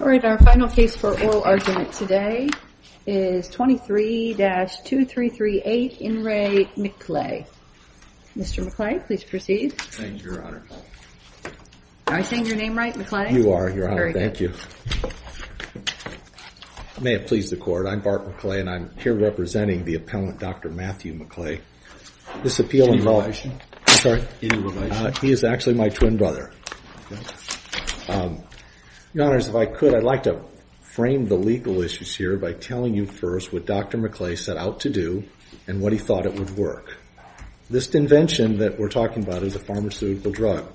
All right. Our final case for oral argument today is 23-2338 In Re. McLeay. Mr. McLeay, please proceed. Thank you, Your Honor. Am I saying your name right, McLeay? You are, Your Honor. Thank you. May it please the Court, I'm Bart McLeay and I'm here representing the appellant, Dr. Matthew McLeay. This appeal involves... I'm sorry? Any relation? He is actually my twin brother. Your Honor, if I could, I'd like to frame the legal issues here by telling you first what Dr. McLeay set out to do and what he thought it would work. This invention that we're talking about is a pharmaceutical drug.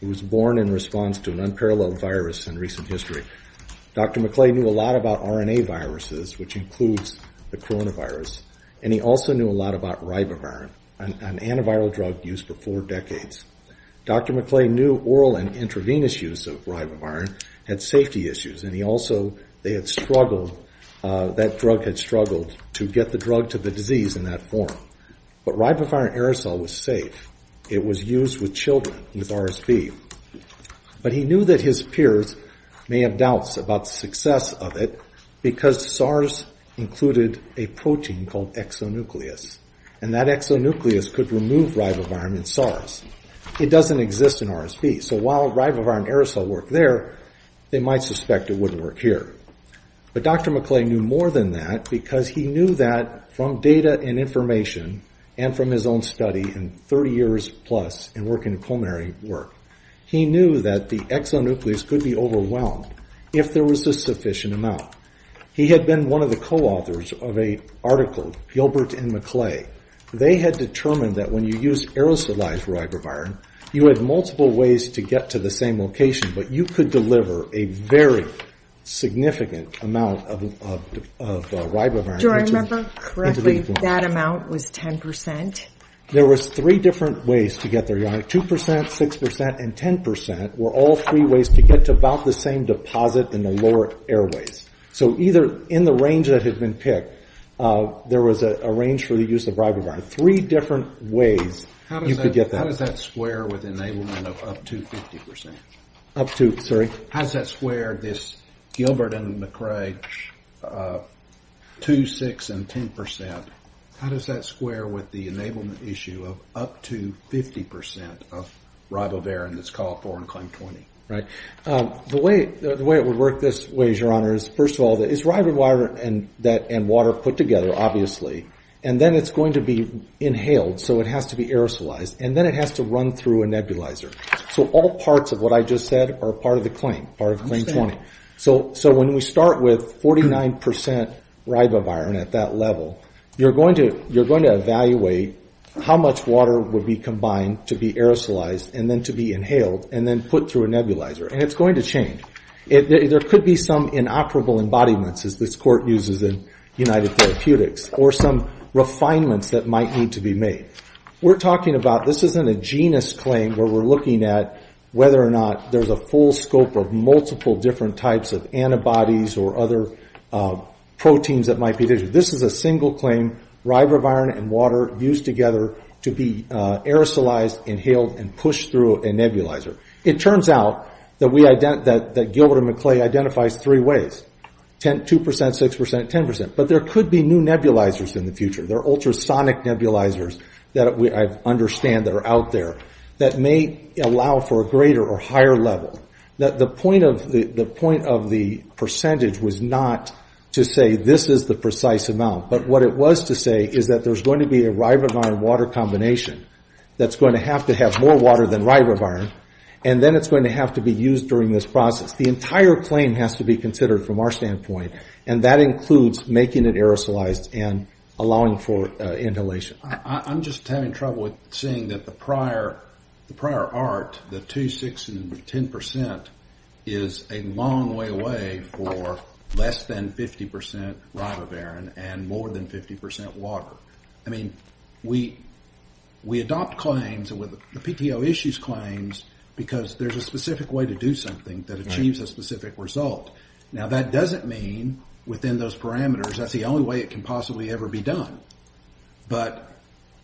It was born in response to an unparalleled virus in recent history. Dr. McLeay knew a lot about RNA viruses, which includes the coronavirus, and he also knew a lot about ribavirin, an antiviral drug used for four decades. Dr. McLeay knew oral and intravenous use of ribavirin had safety issues, and he also... they had struggled... that drug had struggled to get the drug to the disease in that form. But ribavirin aerosol was safe. It was used with children, with RSV. But he knew that his peers may have doubts about the success of it because SARS included a protein called exonucleus, and that exonucleus could remove ribavirin in SARS. It doesn't exist in RSV, so while ribavirin aerosol worked there, they might suspect it wouldn't work here. But Dr. McLeay knew more than that because he knew that from data and information and from his own study in 30 years plus and working in pulmonary work, he knew that the exonucleus could be overwhelmed if there was a sufficient amount. He had been one of the co-authors of an article, Gilbert and McLeay. They had determined that when you used aerosolized ribavirin, you had multiple ways to get to the same location, but you could deliver a very significant amount of ribavirin. Do I remember correctly that amount was 10 percent? There was three different ways to get there, Yoni. 2 percent, 6 percent, and 10 percent were all three ways to get to about the same deposit in the lower airways. So either in the range that had been picked, there was a range for the use of ribavirin. Three different ways you could get that. How does that square with enablement of up to 50 percent? Up to, sorry? How does that square this Gilbert and McLeay, 2, 6, and 10 percent? How does that square with the enablement issue of up to 50 percent of ribavirin that's called for in Claim 20? Right. The way it would work this way, Your Honor, is first of all, is ribavirin and water put together, obviously, and then it's going to be inhaled, so it has to be aerosolized, and then it has to run through a nebulizer. So all parts of what I just said are part of the claim, part of Claim 20. So when we start with 49 percent ribavirin at that level, you're going to evaluate how much water would be combined to be aerosolized and then to be inhaled and then put through a nebulizer, and it's going to change. There could be some inoperable embodiments, as this Court uses in United Therapeutics, or some refinements that might need to be made. We're talking about, this isn't a genus claim where we're looking at whether or not there's a full scope of multiple different types of antibodies or other proteins that might be there. This is a single claim, ribavirin and water used together to be aerosolized, inhaled, and pushed through a nebulizer. It turns out that Gilbert and McClay identifies three ways, 2 percent, 6 percent, 10 percent, but there could be new nebulizers in the future. There are ultrasonic nebulizers that I understand that are out there that may allow for a greater or higher level. The point of the percentage was not to say this is the precise amount, but what it was to say is that there's going to be a ribavirin-water combination that's going to have to have more water than ribavirin, and then it's going to have to be used during this process. The entire claim has to be considered from our standpoint, and that includes making it aerosolized and allowing for inhalation. I'm just having trouble with seeing that the prior art, the 2, 6, and 10 percent, is a long way away for less than 50 percent ribavirin and more than 50 percent water. I mean, we adopt claims with the PTO issues claims because there's a specific way to do something that achieves a specific result. Now, that doesn't mean within those parameters that's the only way it can possibly ever be done, but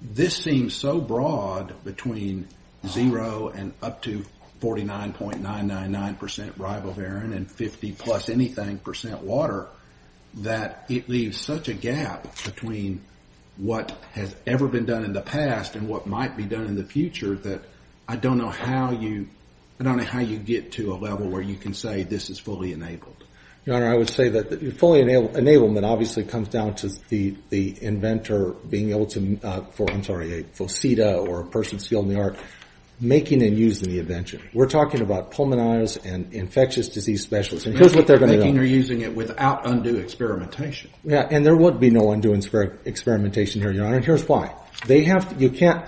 this seems so broad between 0 and up to 49.999 percent ribavirin and 50-plus-anything percent water that it leaves such a gap between what has ever been done in the past and what might be done in the future that I don't know how you get to a level where you can say this is fully enabled. Your Honor, I would say that fully enablement obviously comes down to the inventor being able to, I'm sorry, a faucet or a person skilled in the art making and using the invention. We're talking about pulmonitis and infectious disease specialists, and here's what they're going to do. I mean, they're using it without undue experimentation. Yeah, and there would be no undue experimentation here, Your Honor, and here's why. They have to, you can't,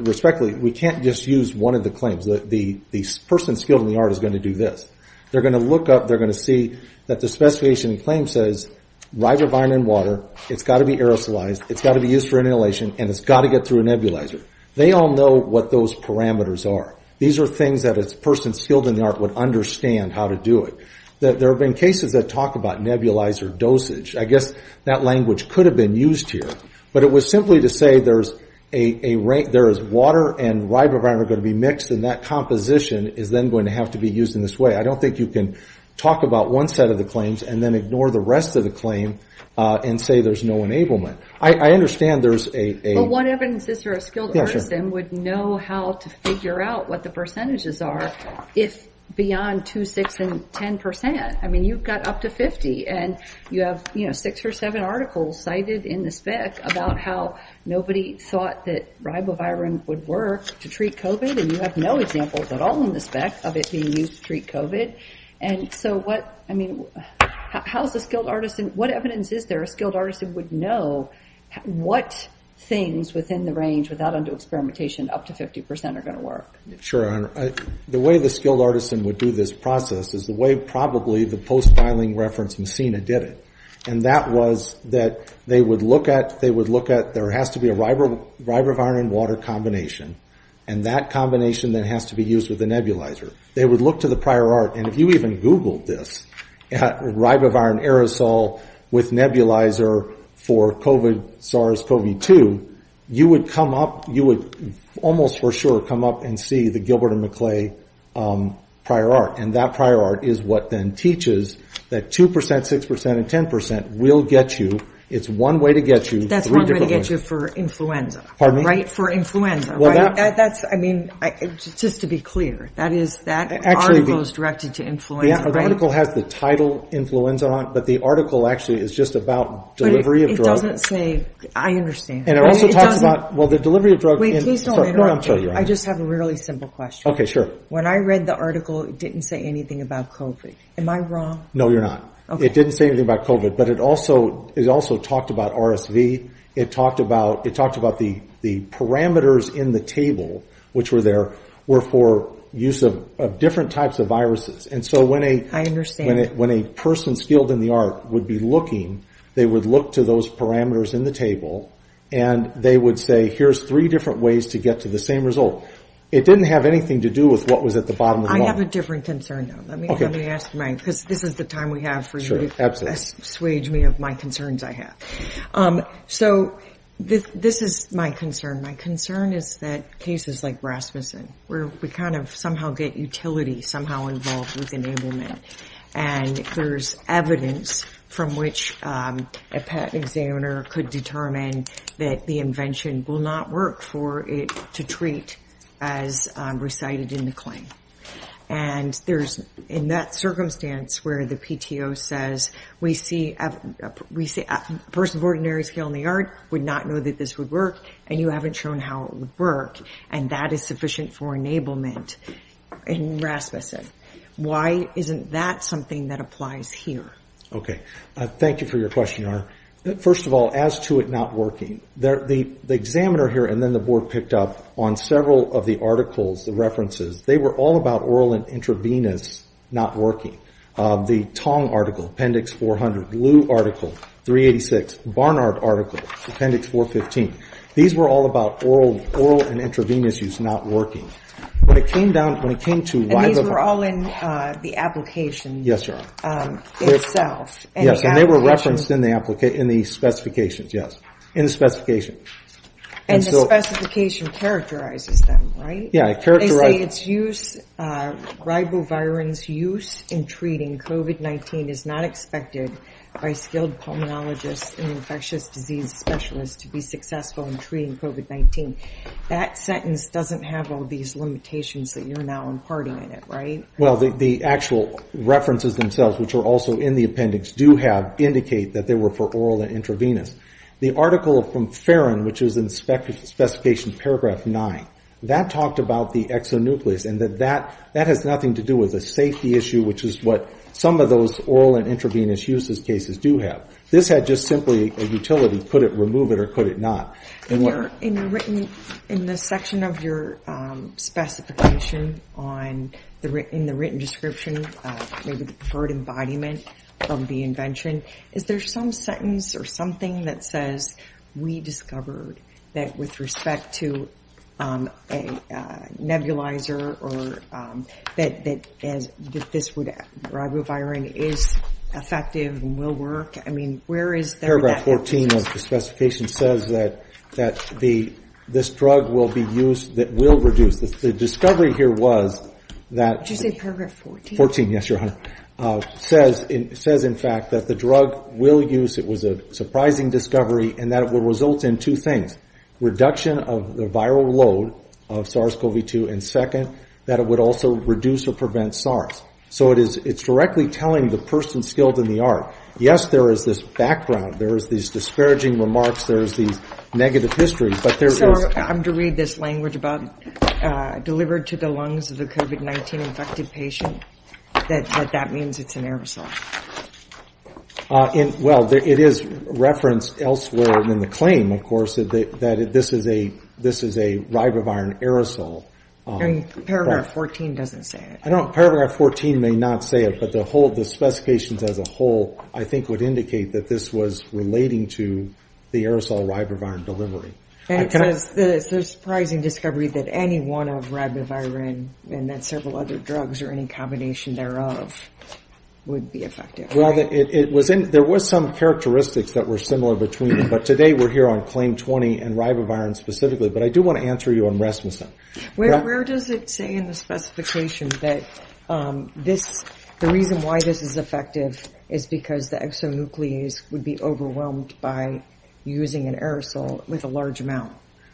respectfully, we can't just use one of the claims. The person skilled in the art is going to do this. They're going to look up, they're going to see that the specification claim says ribavirin and water, it's got to be aerosolized, it's got to be used for inhalation, and it's got to get through a nebulizer. They all know what those parameters are. These are things that a person skilled in the art would understand how to do it. There have been cases that talk about nebulizer dosage. I guess that language could have been used here, but it was simply to say there is water and ribavirin are going to be mixed, and that composition is then going to have to be used in this way. I don't think you can talk about one set of the claims and then ignore the rest of the claim and say there's no enablement. I understand there's a... Well, one evidence is that a skilled artisan would know how to figure out what the percentages are if beyond 2, 6, and 10 percent. I mean, you've got up to 50, and you have, you know, six or seven articles cited in the spec about how nobody thought that ribavirin would work to treat COVID, and you have no examples at all in the spec of it being used to treat COVID. And so what, I mean, how is a skilled artisan, what evidence is there, a skilled artisan would know what things within the range without undue experimentation up to 50 percent are going to work? Sure. The way the skilled artisan would do this process is the way probably the post-filing reference macina did it, and that was that they would look at, there has to be a ribavirin water combination, and that combination then has to be used with a nebulizer. They would look to the prior art, and if you even Googled this, ribavirin aerosol with nebulizer for SARS-CoV-2, you would come up, you would almost for sure come up and see the Gilbert and McClay prior art, and that prior art is what then teaches that 2 percent, 6 percent, and 10 percent will get you. It's one way to get you. That's one way to get you for influenza. Pardon me? For influenza, right? That's, I mean, just to be clear, that is, that article is directed to influenza, right? Yeah, the article has the title influenza on it, but the article actually is just about delivery of drugs. But it doesn't say, I understand. And it also talks about, well, the delivery of drugs. Wait, please don't interrupt me. No, I'm sorry. I just have a really simple question. Okay, sure. When I read the article, it didn't say anything about COVID. Am I wrong? No, you're not. Okay. It didn't say anything about COVID, but it also talked about RSV. It talked about the parameters in the table which were there were for use of different types of viruses, and so when a person skilled in the art would be looking, they would look to those parameters in the table, and they would say, here's three different ways to get to the same result. It didn't have anything to do with what was at the bottom of the line. I have a different concern, though. Okay. Let me ask mine, because this is the time we have for you to assuage me of my concerns I have. So this is my concern. My concern is that cases like Rasmussen, where we kind of somehow get utility somehow involved with enablement, and there's evidence from which a patent examiner could determine that the invention will not work for it to treat as recited in the claim. And there's in that circumstance where the PTO says, we see a person of ordinary skill in the art would not know that this would work, and you haven't shown how it would work, and that is sufficient for enablement in Rasmussen. Why isn't that something that applies here? Thank you for your question, Nora. First of all, as to it not working, the examiner here, and then the board picked up on several of the articles, the references, they were all about oral and intravenous not working. The Tong article, Appendix 400. Liu article, 386. Barnard article, Appendix 415. These were all about oral and intravenous use not working. And these were all in the application itself. Yes, and they were referenced in the specifications, yes. In the specification. And the specification characterizes them, right? Yeah, it characterizes. They say it's use, ribovirin's use in treating COVID-19 is not expected by skilled pulmonologists and infectious disease specialists to be successful in treating COVID-19. That sentence doesn't have all these limitations that you're now imparting in it, right? Well, the actual references themselves, which are also in the appendix, do have, indicate that they were for oral and intravenous. The article from Farron, which is in Specification Paragraph 9, that talked about the exonucleus, and that that has nothing to do with a safety issue, which is what some of those oral and intravenous uses cases do have. This had just simply a utility. Could it remove it or could it not? In the section of your specification, in the written description, maybe the preferred embodiment of the invention, is there some sentence or something that says, we discovered that with respect to a nebulizer or that this ribovirin is effective and will work? I mean, where is that? Paragraph 14 of the specification says that this drug will be used, that will reduce. The discovery here was that- Did you say Paragraph 14? 14, yes, Your Honor. It says, in fact, that the drug will use, it was a surprising discovery, and that it will result in two things. Reduction of the viral load of SARS-CoV-2, and second, that it would also reduce or prevent SARS. So it's directly telling the person skilled in the art, yes, there is this background, there is these discouraging remarks, there is these negative histories, but there is- So I'm to read this language about delivered to the lungs of the COVID-19 infected patient, that that means it's an aerosol? Well, it is referenced elsewhere in the claim, of course, that this is a ribovirin aerosol. I mean, Paragraph 14 doesn't say it. Paragraph 14 may not say it, but the specifications as a whole, I think, would indicate that this was relating to the aerosol ribovirin delivery. And it says, there's a surprising discovery that any one of ribovirin, and that several other drugs, or any combination thereof, would be effective. Well, there was some characteristics that were similar between them, but today we're here on Claim 20, and ribovirin specifically. But I do want to answer you on Rasmussen. Where does it say in the specification that the reason why this is effective is because the exonuclease would be overwhelmed by using an aerosol with a large amount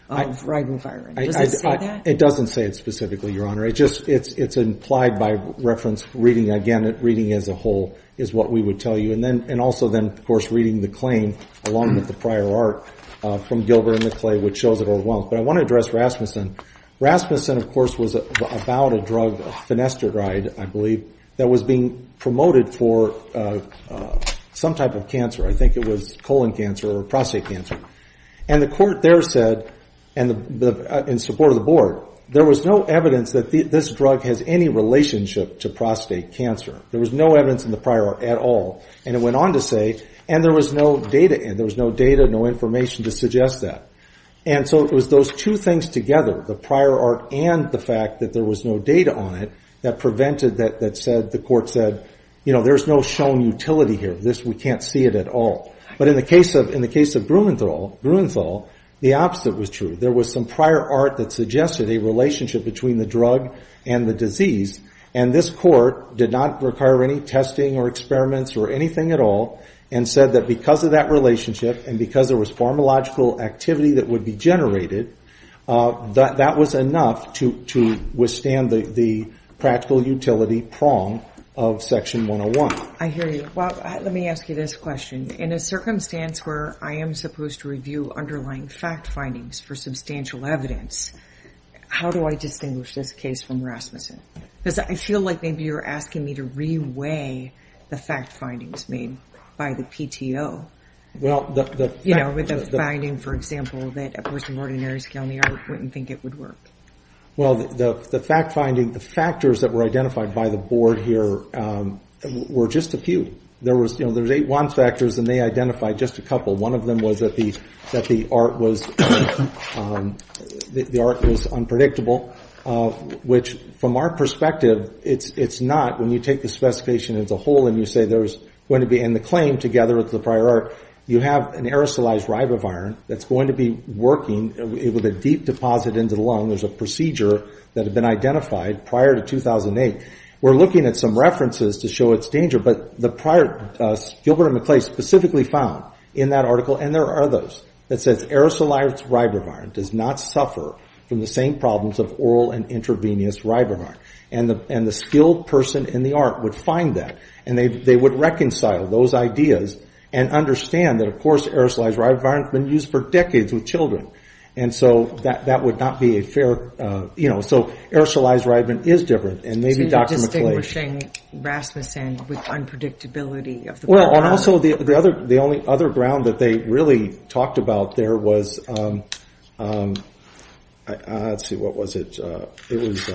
of ribovirin? Does it say that? It doesn't say it specifically, Your Honor. It's implied by reference reading. Again, reading as a whole is what we would tell you. And also then, of course, reading the claim along with the prior art from Gilbert and McClay, which shows it overwhelmed. But I want to address Rasmussen. Rasmussen, of course, was about a drug, finasteride, I believe, that was being promoted for some type of cancer. I think it was colon cancer or prostate cancer. And the court there said, in support of the Board, there was no evidence that this drug has any relationship to prostate cancer. There was no evidence in the prior art at all. And it went on to say, and there was no data, no information to suggest that. And so it was those two things together, the prior art and the fact that there was no data on it, that prevented that, that said, the court said, you know, there's no shown utility here. This, we can't see it at all. But in the case of Grunenthal, the opposite was true. There was some prior art that suggested a relationship between the drug and the disease. And this court did not require any testing or experiments or anything at all and said that because of that relationship and because there was pharmacological activity that would be generated, that was enough to withstand the practical utility prong of Section 101. I hear you. Well, let me ask you this question. In a circumstance where I am supposed to review underlying fact findings for substantial evidence, how do I distinguish this case from Rasmussen? Because I feel like maybe you're asking me to reweigh the fact findings made by the PTO. You know, with the finding, for example, that a person of ordinary skill in the art wouldn't think it would work. Well, the fact finding, the factors that were identified by the board here were just a few. There was, you know, there was eight one factors, and they identified just a couple. One of them was that the art was unpredictable, which, from our perspective, it's not when you take the specification as a whole and you say there's going to be in the claim together with the prior art, you have an aerosolized ribavirin that's going to be working with a deep deposit into the lung. There's a procedure that had been identified prior to 2008. We're looking at some references to show its danger, but Gilbert and McClay specifically found in that article, and there are others, that says aerosolized ribavirin does not suffer from the same problems of oral and intravenous ribavirin. And the skilled person in the art would find that, and they would reconcile those ideas and understand that, of course, aerosolized ribavirin has been used for decades with children. And so that would not be a fair, you know, so aerosolized ribavirin is different, and maybe Dr. McClay. So you're distinguishing Rasmussen with unpredictability of the prior art. Well, and also the only other ground that they really talked about there was, let's see, what was it? It was,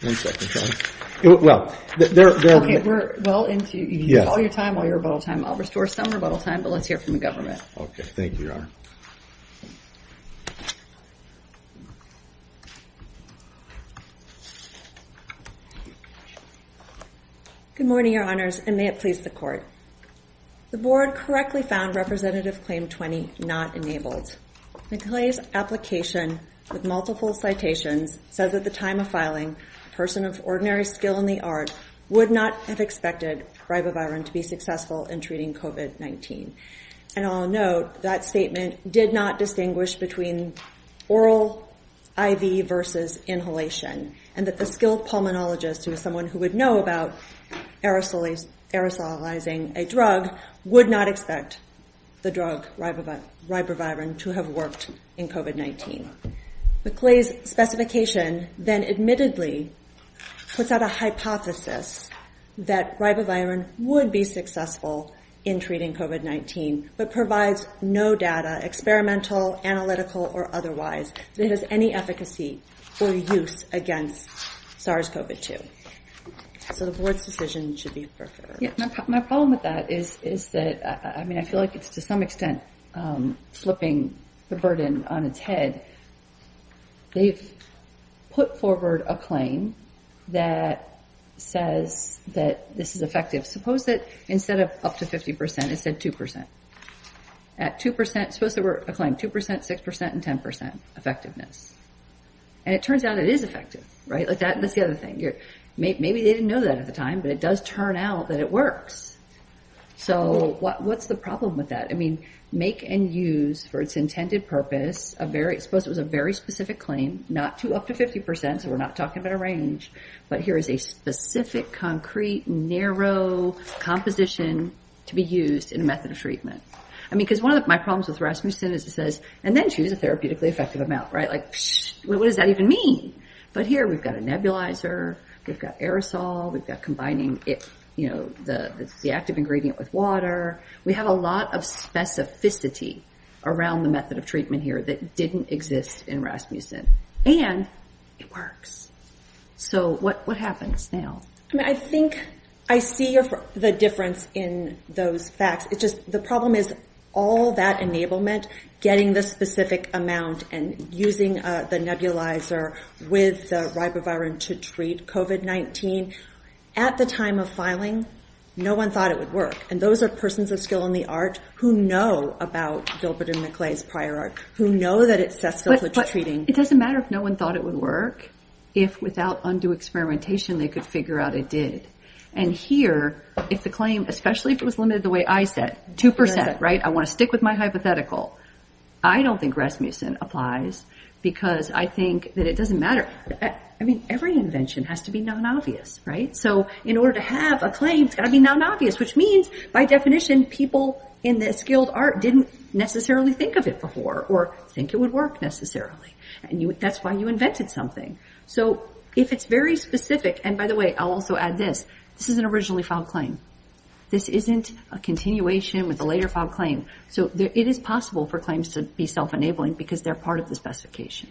one second. Okay, we're well into, all your time, all your rebuttal time. I'll restore some rebuttal time, but let's hear from the government. Okay, thank you, Your Honor. Good morning, Your Honors, and may it please the Court. The Board correctly found Representative Claim 20 not enabled. McClay's application with multiple citations says at the time of filing, a person of ordinary skill in the art would not have expected ribavirin to be successful in treating COVID-19. And I'll note that statement did not distinguish between oral IV versus inhalation, and that the skilled pulmonologist, who is someone who would know about aerosolizing a drug, would not expect the drug ribavirin to have worked in COVID-19. McClay's specification then admittedly puts out a hypothesis that ribavirin would be successful in treating COVID-19, but provides no data, experimental, analytical, or otherwise, that has any efficacy or use against SARS-CoV-2. So the Board's decision should be preferred. Yeah, my problem with that is that, I mean, I feel like it's to some extent flipping the burden on its head. They've put forward a claim that says that this is effective. Suppose that instead of up to 50 percent, it said 2 percent. At 2 percent, suppose there were a claim 2 percent, 6 percent, and 10 percent effectiveness. And it turns out it is effective, right? Maybe they didn't know that at the time, but it does turn out that it works. So what's the problem with that? I mean, make and use for its intended purpose, suppose it was a very specific claim, not up to 50 percent, so we're not talking about a range, but here is a specific, concrete, narrow composition to be used in a method of treatment. I mean, because one of my problems with Rasmussen is it says, and then choose a therapeutically effective amount, right? What does that even mean? But here we've got a nebulizer, we've got aerosol, we've got combining the active ingredient with water. We have a lot of specificity around the method of treatment here that didn't exist in Rasmussen, and it works. So what happens now? I mean, I think I see the difference in those facts. It's just the problem is all that enablement, getting the specific amount and using the nebulizer with the ribavirin to treat COVID-19. At the time of filing, no one thought it would work. And those are persons of skill in the art who know about Gilbert and Maclay's prior art, who know that it's cesspillage treating. But it doesn't matter if no one thought it would work. If without undue experimentation, they could figure out it did. And here, if the claim, especially if it was limited the way I said, 2%, right? I want to stick with my hypothetical. I don't think Rasmussen applies because I think that it doesn't matter. I mean, every invention has to be non-obvious, right? So in order to have a claim, it's got to be non-obvious, which means by definition, people in the skilled art didn't necessarily think of it before or think it would work necessarily. And that's why you invented something. So if it's very specific, and by the way, I'll also add this. This is an originally filed claim. This isn't a continuation with a later filed claim. So it is possible for claims to be self-enabling because they're part of the specification.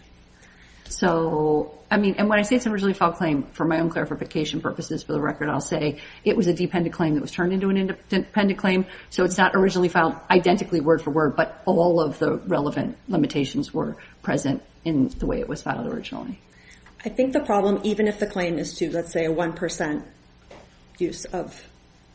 So, I mean, and when I say it's an originally filed claim, for my own clarification purposes, for the record, I'll say it was a dependent claim that was turned into an independent claim. So it's not originally filed identically word for word, but all of the relevant limitations were present in the way it was filed originally. I think the problem, even if the claim is to, let's say, a 1% use of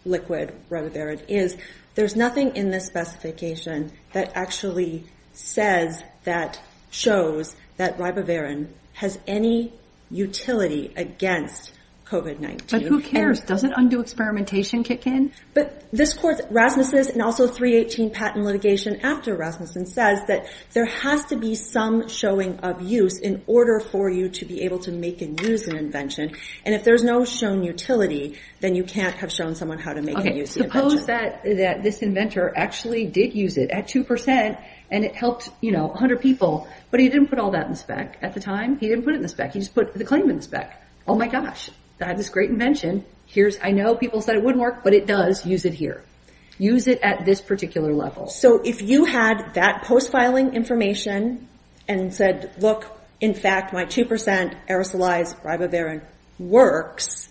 liquid ribavirin, is there's nothing in this specification that actually says that shows that ribavirin has any utility against COVID-19. But who cares? Doesn't undue experimentation kick in? But this court's, Rasmussen's, and also 318 patent litigation after Rasmussen says that there has to be some showing of use in order for you to be able to make and use an invention. And if there's no shown utility, then you can't have shown someone how to make and use the invention. Okay, suppose that this inventor actually did use it at 2% and it helped, you know, 100 people, but he didn't put all that in the spec at the time. He didn't put it in the spec. He just put the claim in the spec. Oh, my gosh. I have this great invention. I know people said it wouldn't work, but it does. Use it here. Use it at this particular level. So if you had that post-filing information and said, look, in fact, my 2% aerosolized ribavirin works,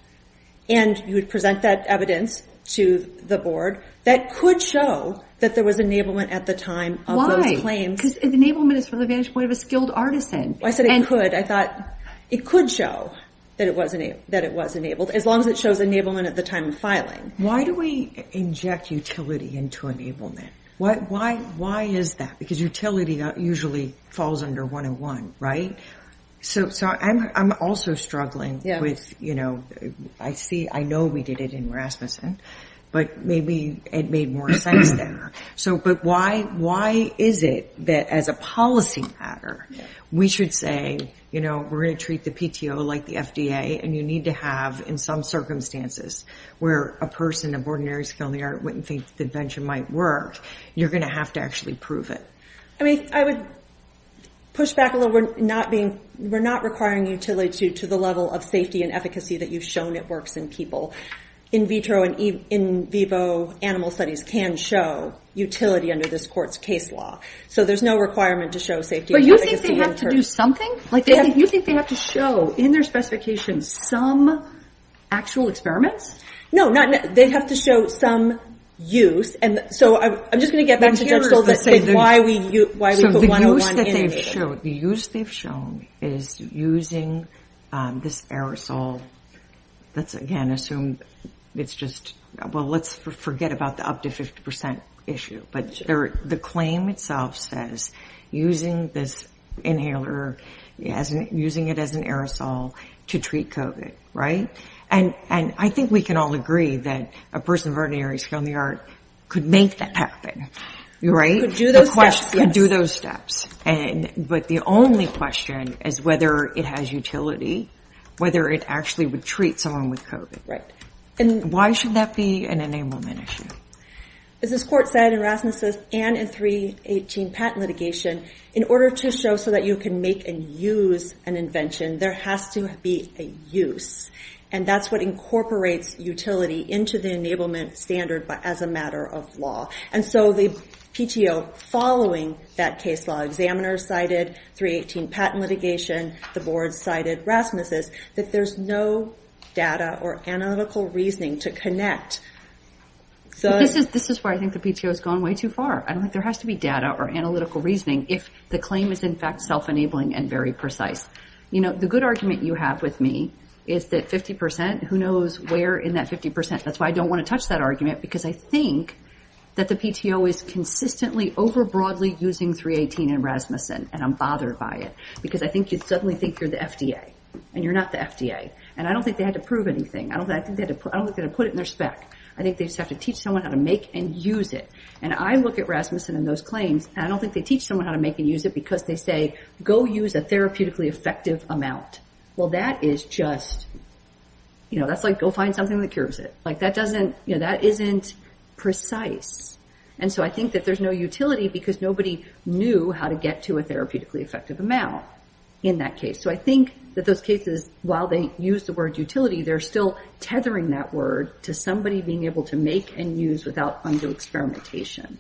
and you would present that evidence to the board, that could show that there was enablement at the time of those claims. Because enablement is from the vantage point of a skilled artisan. I said it could. I thought it could show that it was enabled, as long as it shows enablement at the time of filing. Why do we inject utility into enablement? Why is that? Because utility usually falls under 101, right? So I'm also struggling with, you know, I know we did it in Rasmussen, but maybe it made more sense there. But why is it that, as a policy matter, we should say, you know, we're going to treat the PTO like the FDA, and you need to have, in some circumstances, where a person of ordinary skill in the art wouldn't think the invention might work, you're going to have to actually prove it. I mean, I would push back a little. We're not requiring utility to the level of safety and efficacy that you've shown it works in people. In vitro and in vivo animal studies can show utility under this court's case law. So there's no requirement to show safety and efficacy. But you think they have to do something? You think they have to show, in their specifications, some actual experiments? No, they have to show some use. And so I'm just going to get back to Judge Solis and why we put 101 in it. The use they've shown is using this aerosol. Let's, again, assume it's just, well, let's forget about the up to 50% issue. But the claim itself says using this inhaler, using it as an aerosol to treat COVID, right? And I think we can all agree that a person of ordinary skill in the art could make that happen, right? Could do those steps, yes. But the only question is whether it has utility, whether it actually would treat someone with COVID. Right. And why should that be an enablement issue? As this court said in Rasmussen and in 318 patent litigation, in order to show so that you can make and use an invention, there has to be a use. And that's what incorporates utility into the enablement standard as a matter of law. And so the PTO following that case law, examiners cited 318 patent litigation, the board cited Rasmussen, that there's no data or analytical reasoning to connect. This is why I think the PTO has gone way too far. There has to be data or analytical reasoning if the claim is, in fact, self-enabling and very precise. The good argument you have with me is that 50%, who knows where in that 50%? That's why I don't want to touch that argument, because I think that the PTO is consistently, over broadly using 318 and Rasmussen, and I'm bothered by it. Because I think you suddenly think you're the FDA, and you're not the FDA. And I don't think they had to prove anything. I don't think they had to put it in their spec. I think they just have to teach someone how to make and use it. And I look at Rasmussen and those claims, and I don't think they teach someone how to make and use it because they say, go use a therapeutically effective amount. Well, that is just, you know, that's like, go find something that cures it. Like, that doesn't, you know, that isn't precise. And so I think that there's no utility because nobody knew how to get to a therapeutically effective amount in that case. So I think that those cases, while they use the word utility, they're still tethering that word to somebody being able to make and use without undue experimentation.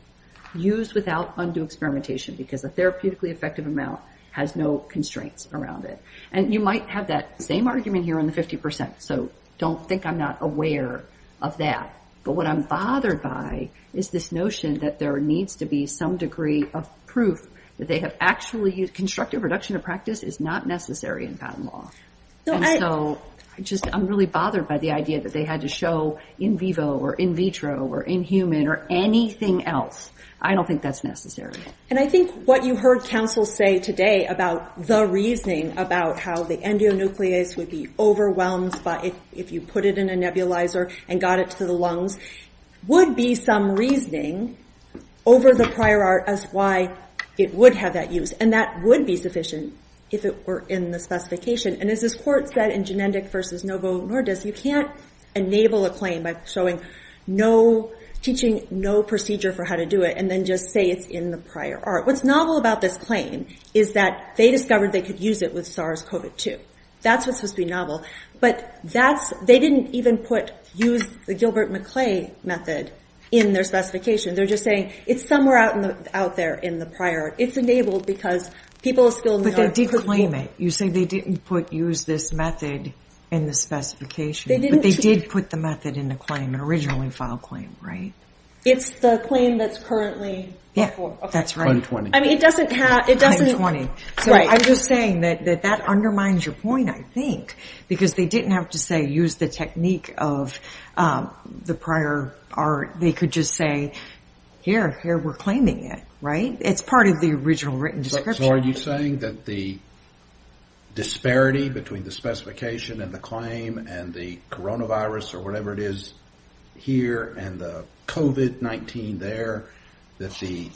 Use without undue experimentation, because a therapeutically effective amount has no constraints around it. And you might have that same argument here on the 50%. So don't think I'm not aware of that. But what I'm bothered by is this notion that there needs to be some degree of proof that they have actually used. Constructive reduction of practice is not necessary in patent law. And so I just, I'm really bothered by the idea that they had to show in vivo or in vitro or in human or anything else. I don't think that's necessary. And I think what you heard counsel say today about the reasoning about how the endonuclease would be overwhelmed if you put it in a nebulizer and got it to the lungs, would be some reasoning over the prior art as to why it would have that use. And that would be sufficient if it were in the specification. And as this court said in Genendik v. Novo Nordis, you can't enable a claim by showing no, teaching no procedure for how to do it and then just say it's in the prior art. What's novel about this claim is that they discovered they could use it with SARS-CoV-2. That's what's supposed to be novel. But that's, they didn't even put, use the Gilbert-McClay method in their specification. They're just saying it's somewhere out there in the prior art. It's enabled because people still know. But they did claim it. You say they didn't put, use this method in the specification. But they did put the method in the claim, originally filed claim, right? It's the claim that's currently before. Yeah, that's right. Claim 20. I mean, it doesn't have, it doesn't. Claim 20. Right. So I'm just saying that that undermines your point, I think. Because they didn't have to say, use the technique of the prior art. They could just say, here, here, we're claiming it, right? It's part of the original written description. So are you saying that the disparity between the specification and the claim and the coronavirus or whatever it is here and the COVID-19 there, that the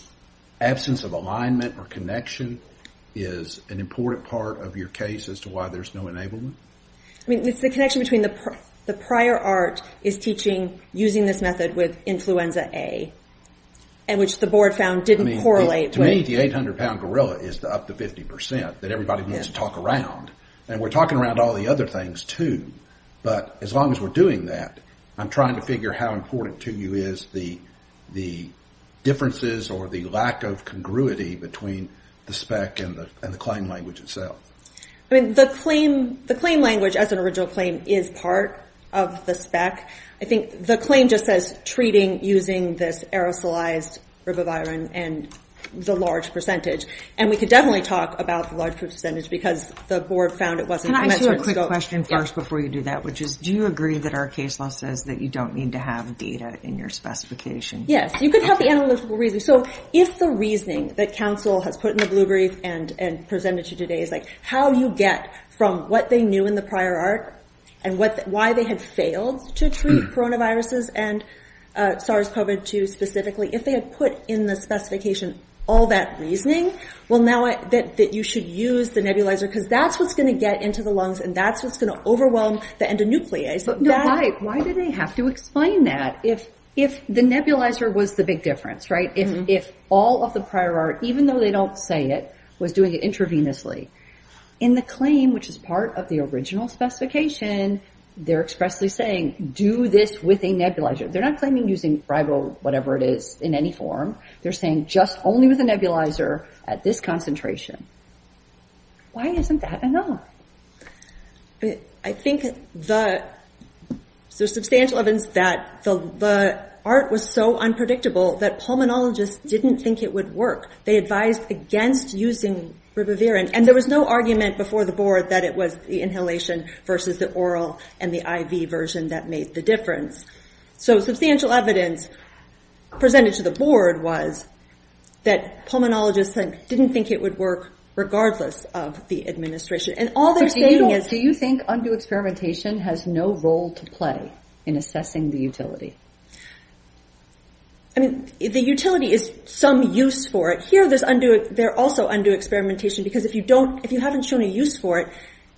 absence of alignment or connection is an important part of your case as to why there's no enablement? I mean, it's the connection between the prior art is teaching using this method with influenza A, and which the board found didn't correlate with. I think the 800-pound gorilla is up to 50% that everybody needs to talk around. And we're talking around all the other things, too. But as long as we're doing that, I'm trying to figure how important to you is the differences or the lack of congruity between the spec and the claim language itself. I mean, the claim language as an original claim is part of the spec. I think the claim just says treating using this aerosolized ribavirin and the large percentage. And we could definitely talk about the large percentage because the board found it wasn't a measurement scope. Can I ask you a quick question first before you do that, which is do you agree that our case law says that you don't need to have data in your specification? Yes, you could have the analytical reasoning. So if the reasoning that counsel has put in the blue brief and presented to you today is like how you get from what they knew in the prior art and why they had failed to treat coronaviruses and SARS-CoV-2 specifically, if they had put in the specification all that reasoning, well, now that you should use the nebulizer because that's what's going to get into the lungs and that's what's going to overwhelm the endonuclease. But why did they have to explain that? If the nebulizer was the big difference, right? If all of the prior art, even though they don't say it, was doing it intravenously, in the claim, which is part of the original specification, they're expressly saying do this with a nebulizer. They're not claiming using ribo-whatever-it-is in any form. They're saying just only with a nebulizer at this concentration. Why isn't that enough? I think the... So substantial evidence that the art was so unpredictable that pulmonologists didn't think it would work. They advised against using ribavirin. And there was no argument before the board that it was the inhalation versus the oral and the IV version that made the difference. So substantial evidence presented to the board was that pulmonologists didn't think it would work regardless of the administration. And all they're saying is... Do you think undue experimentation has no role to play in assessing the utility? I mean, the utility is some use for it. Here, they're also undue experimentation because if you haven't shown a use for it,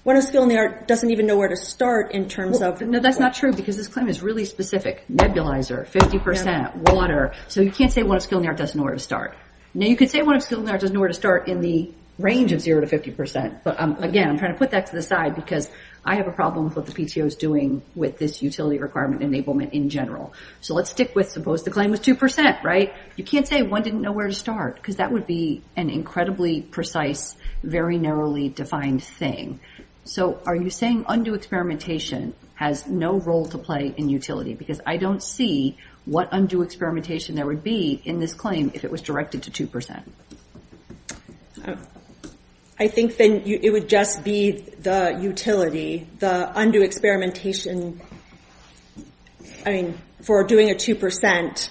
one of skill and the art doesn't even know where to start in terms of... No, that's not true because this claim is really specific. Nebulizer, 50%, water. So you can't say one of skill and the art doesn't know where to start. Now, you could say one of skill and the art doesn't know where to start in the range of 0% to 50%. But again, I'm trying to put that to the side because I have a problem with what the PTO is doing with this utility requirement enablement in general. So let's stick with suppose the claim was 2%, right? You can't say one didn't know where to start because that would be an incredibly precise, very narrowly defined thing. So are you saying undue experimentation has no role to play in utility? Because I don't see what undue experimentation there would be in this claim if it was directed to 2%. I think then it would just be the utility, the undue experimentation... I mean, for doing a 2%.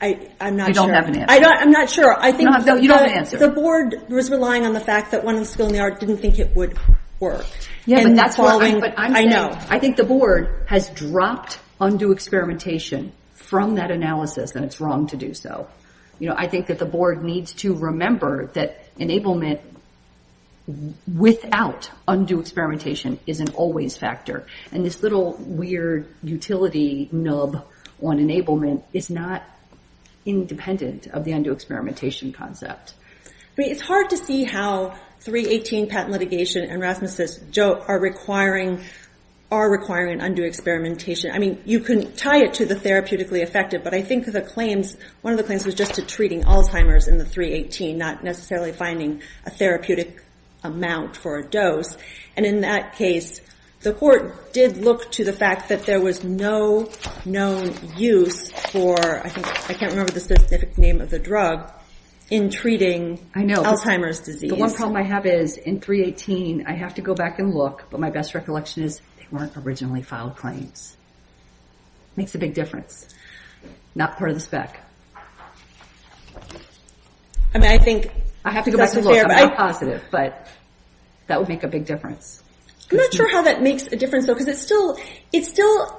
I'm not sure. You don't have an answer. I'm not sure. You don't have an answer. The board was relying on the fact that one of skill and the art didn't think it would work. Yeah, but that's what I'm saying. I think the board has dropped undue experimentation from that analysis and it's wrong to do so. I think that the board needs to remember that enablement without undue experimentation is an always factor. And this little weird utility nub on enablement is not independent of the undue experimentation concept. I mean, it's hard to see how 318 patent litigation and Rasmus' joke are requiring undue experimentation. I mean, you can tie it to the therapeutically effective, but I think one of the claims was just to treating Alzheimer's in the 318, not necessarily finding a therapeutic amount for a dose. And in that case, the court did look to the fact that there was no known use for I think I can't remember the specific name of the drug in treating Alzheimer's disease. The one problem I have is in 318, I have to go back and look, but my best recollection is they weren't originally filed claims. It makes a big difference. Not part of the spec. I mean, I think it doesn't fare well. Not positive, but that would make a big difference. I'm not sure how that makes a difference, though, because it still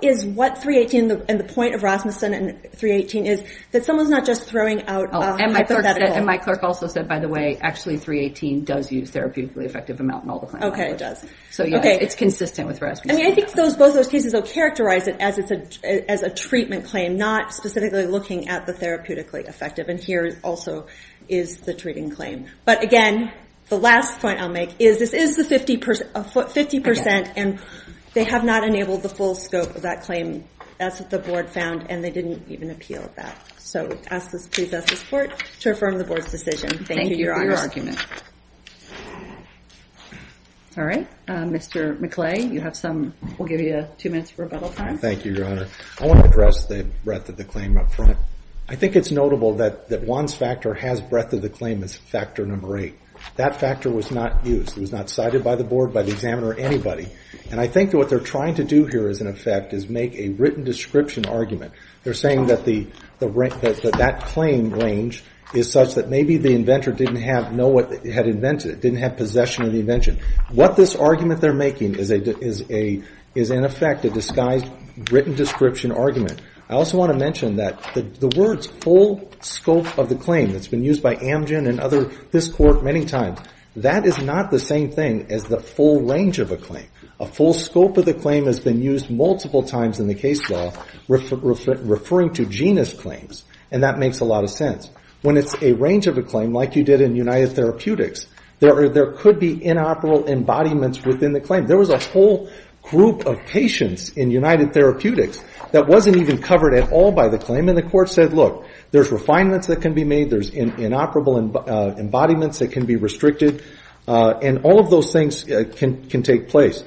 is what 318 and the point of Rasmuson and 318 is, that someone's not just throwing out hypotheticals. And my clerk also said, by the way, actually 318 does use therapeutically effective amount in all the claims. Okay, it does. So, yes, it's consistent with Rasmuson. I mean, I think both of those cases will characterize it as a treatment claim, not specifically looking at the therapeutically effective. And here also is the treating claim. But, again, the last point I'll make is this is the 50%, and they have not enabled the full scope of that claim. That's what the board found, and they didn't even appeal that. So, please ask the court to affirm the board's decision. Thank you, Your Honor. Thank you for your argument. All right. Mr. McClay, you have some. We'll give you two minutes for rebuttal time. Thank you, Your Honor. I want to address the breadth of the claim up front. I think it's notable that Juan's factor has breadth of the claim as factor number eight. That factor was not used. It was not cited by the board, by the examiner, or anybody. And I think what they're trying to do here, as a matter of fact, is make a written description argument. They're saying that that claim range is such that maybe the inventor didn't know what they had invented, didn't have possession of the invention. What this argument they're making is, in effect, a disguised written description argument. I also want to mention that the words, full scope of the claim, that's been used by Amgen and this court many times, that is not the same thing as the full range of a claim. A full scope of the claim has been used multiple times in the case law, referring to genus claims. And that makes a lot of sense. When it's a range of a claim, like you did in United Therapeutics, there could be inoperable embodiments within the claim. There was a whole group of patients in United Therapeutics that wasn't even covered at all by the claim. And the court said, look, there's refinements that can be made. There's inoperable embodiments that can be restricted. And all of those things can take place.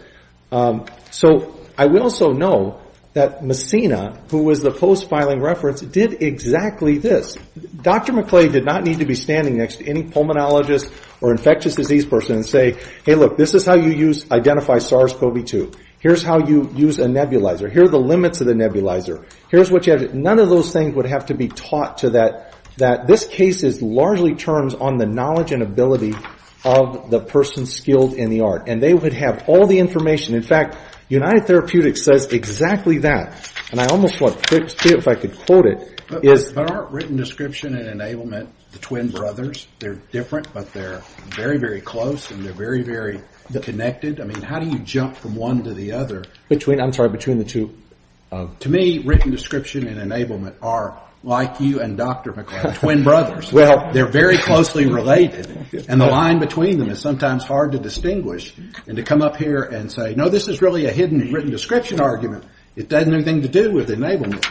So I would also know that Messina, who was the post-filing reference, did exactly this. Dr. McClay did not need to be standing next to any pulmonologist or infectious disease person and say, hey, look, this is how you identify SARS-CoV-2. Here's how you use a nebulizer. Here are the limits of the nebulizer. Here's what you have to do. None of those things would have to be taught to that. This case largely turns on the knowledge and ability of the person skilled in the art. And they would have all the information. In fact, United Therapeutics says exactly that. And I almost want to see if I could quote it. But aren't written description and enablement the twin brothers? They're different, but they're very, very close, and they're very, very connected. I mean, how do you jump from one to the other? I'm sorry, between the two. To me, written description and enablement are like you and Dr. McClay, twin brothers. They're very closely related. And the line between them is sometimes hard to distinguish. And to come up here and say, no, this is really a hidden written description argument, it doesn't have anything to do with enablement.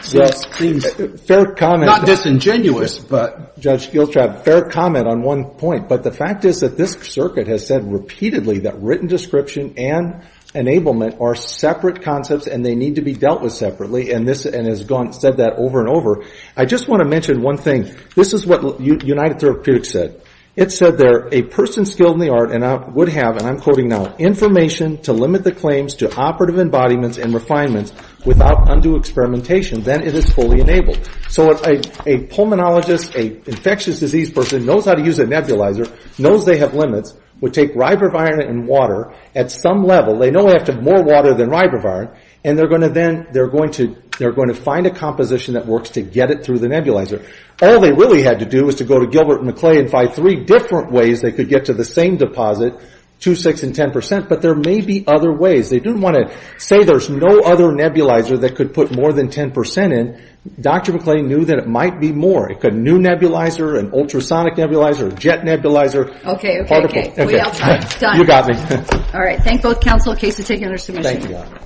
Fair comment. Not disingenuous, but. Judge Giltrap, fair comment on one point. But the fact is that this circuit has said repeatedly that written description and enablement are separate concepts and they need to be dealt with separately, and has said that over and over. I just want to mention one thing. This is what United Therapeutics said. It said there, a person skilled in the art would have, and I'm quoting now, information to limit the claims to operative embodiments and refinements without undue experimentation, then it is fully enabled. So a pulmonologist, an infectious disease person, knows how to use a nebulizer, knows they have limits, would take ribavirin and water at some level. They know they have to have more water than ribavirin, and they're going to find a composition that works to get it through the nebulizer. All they really had to do was to go to Gilbert and McClay and find three different ways they could get to the same deposit, 2, 6, and 10 percent. But there may be other ways. They didn't want to say there's no other nebulizer that could put more than 10 percent in. Dr. McClay knew that it might be more. It could be a new nebulizer, an ultrasonic nebulizer, a jet nebulizer. Okay, okay, okay. You got me. All right. Thank both counsel. Case is taken under submission. Thank you.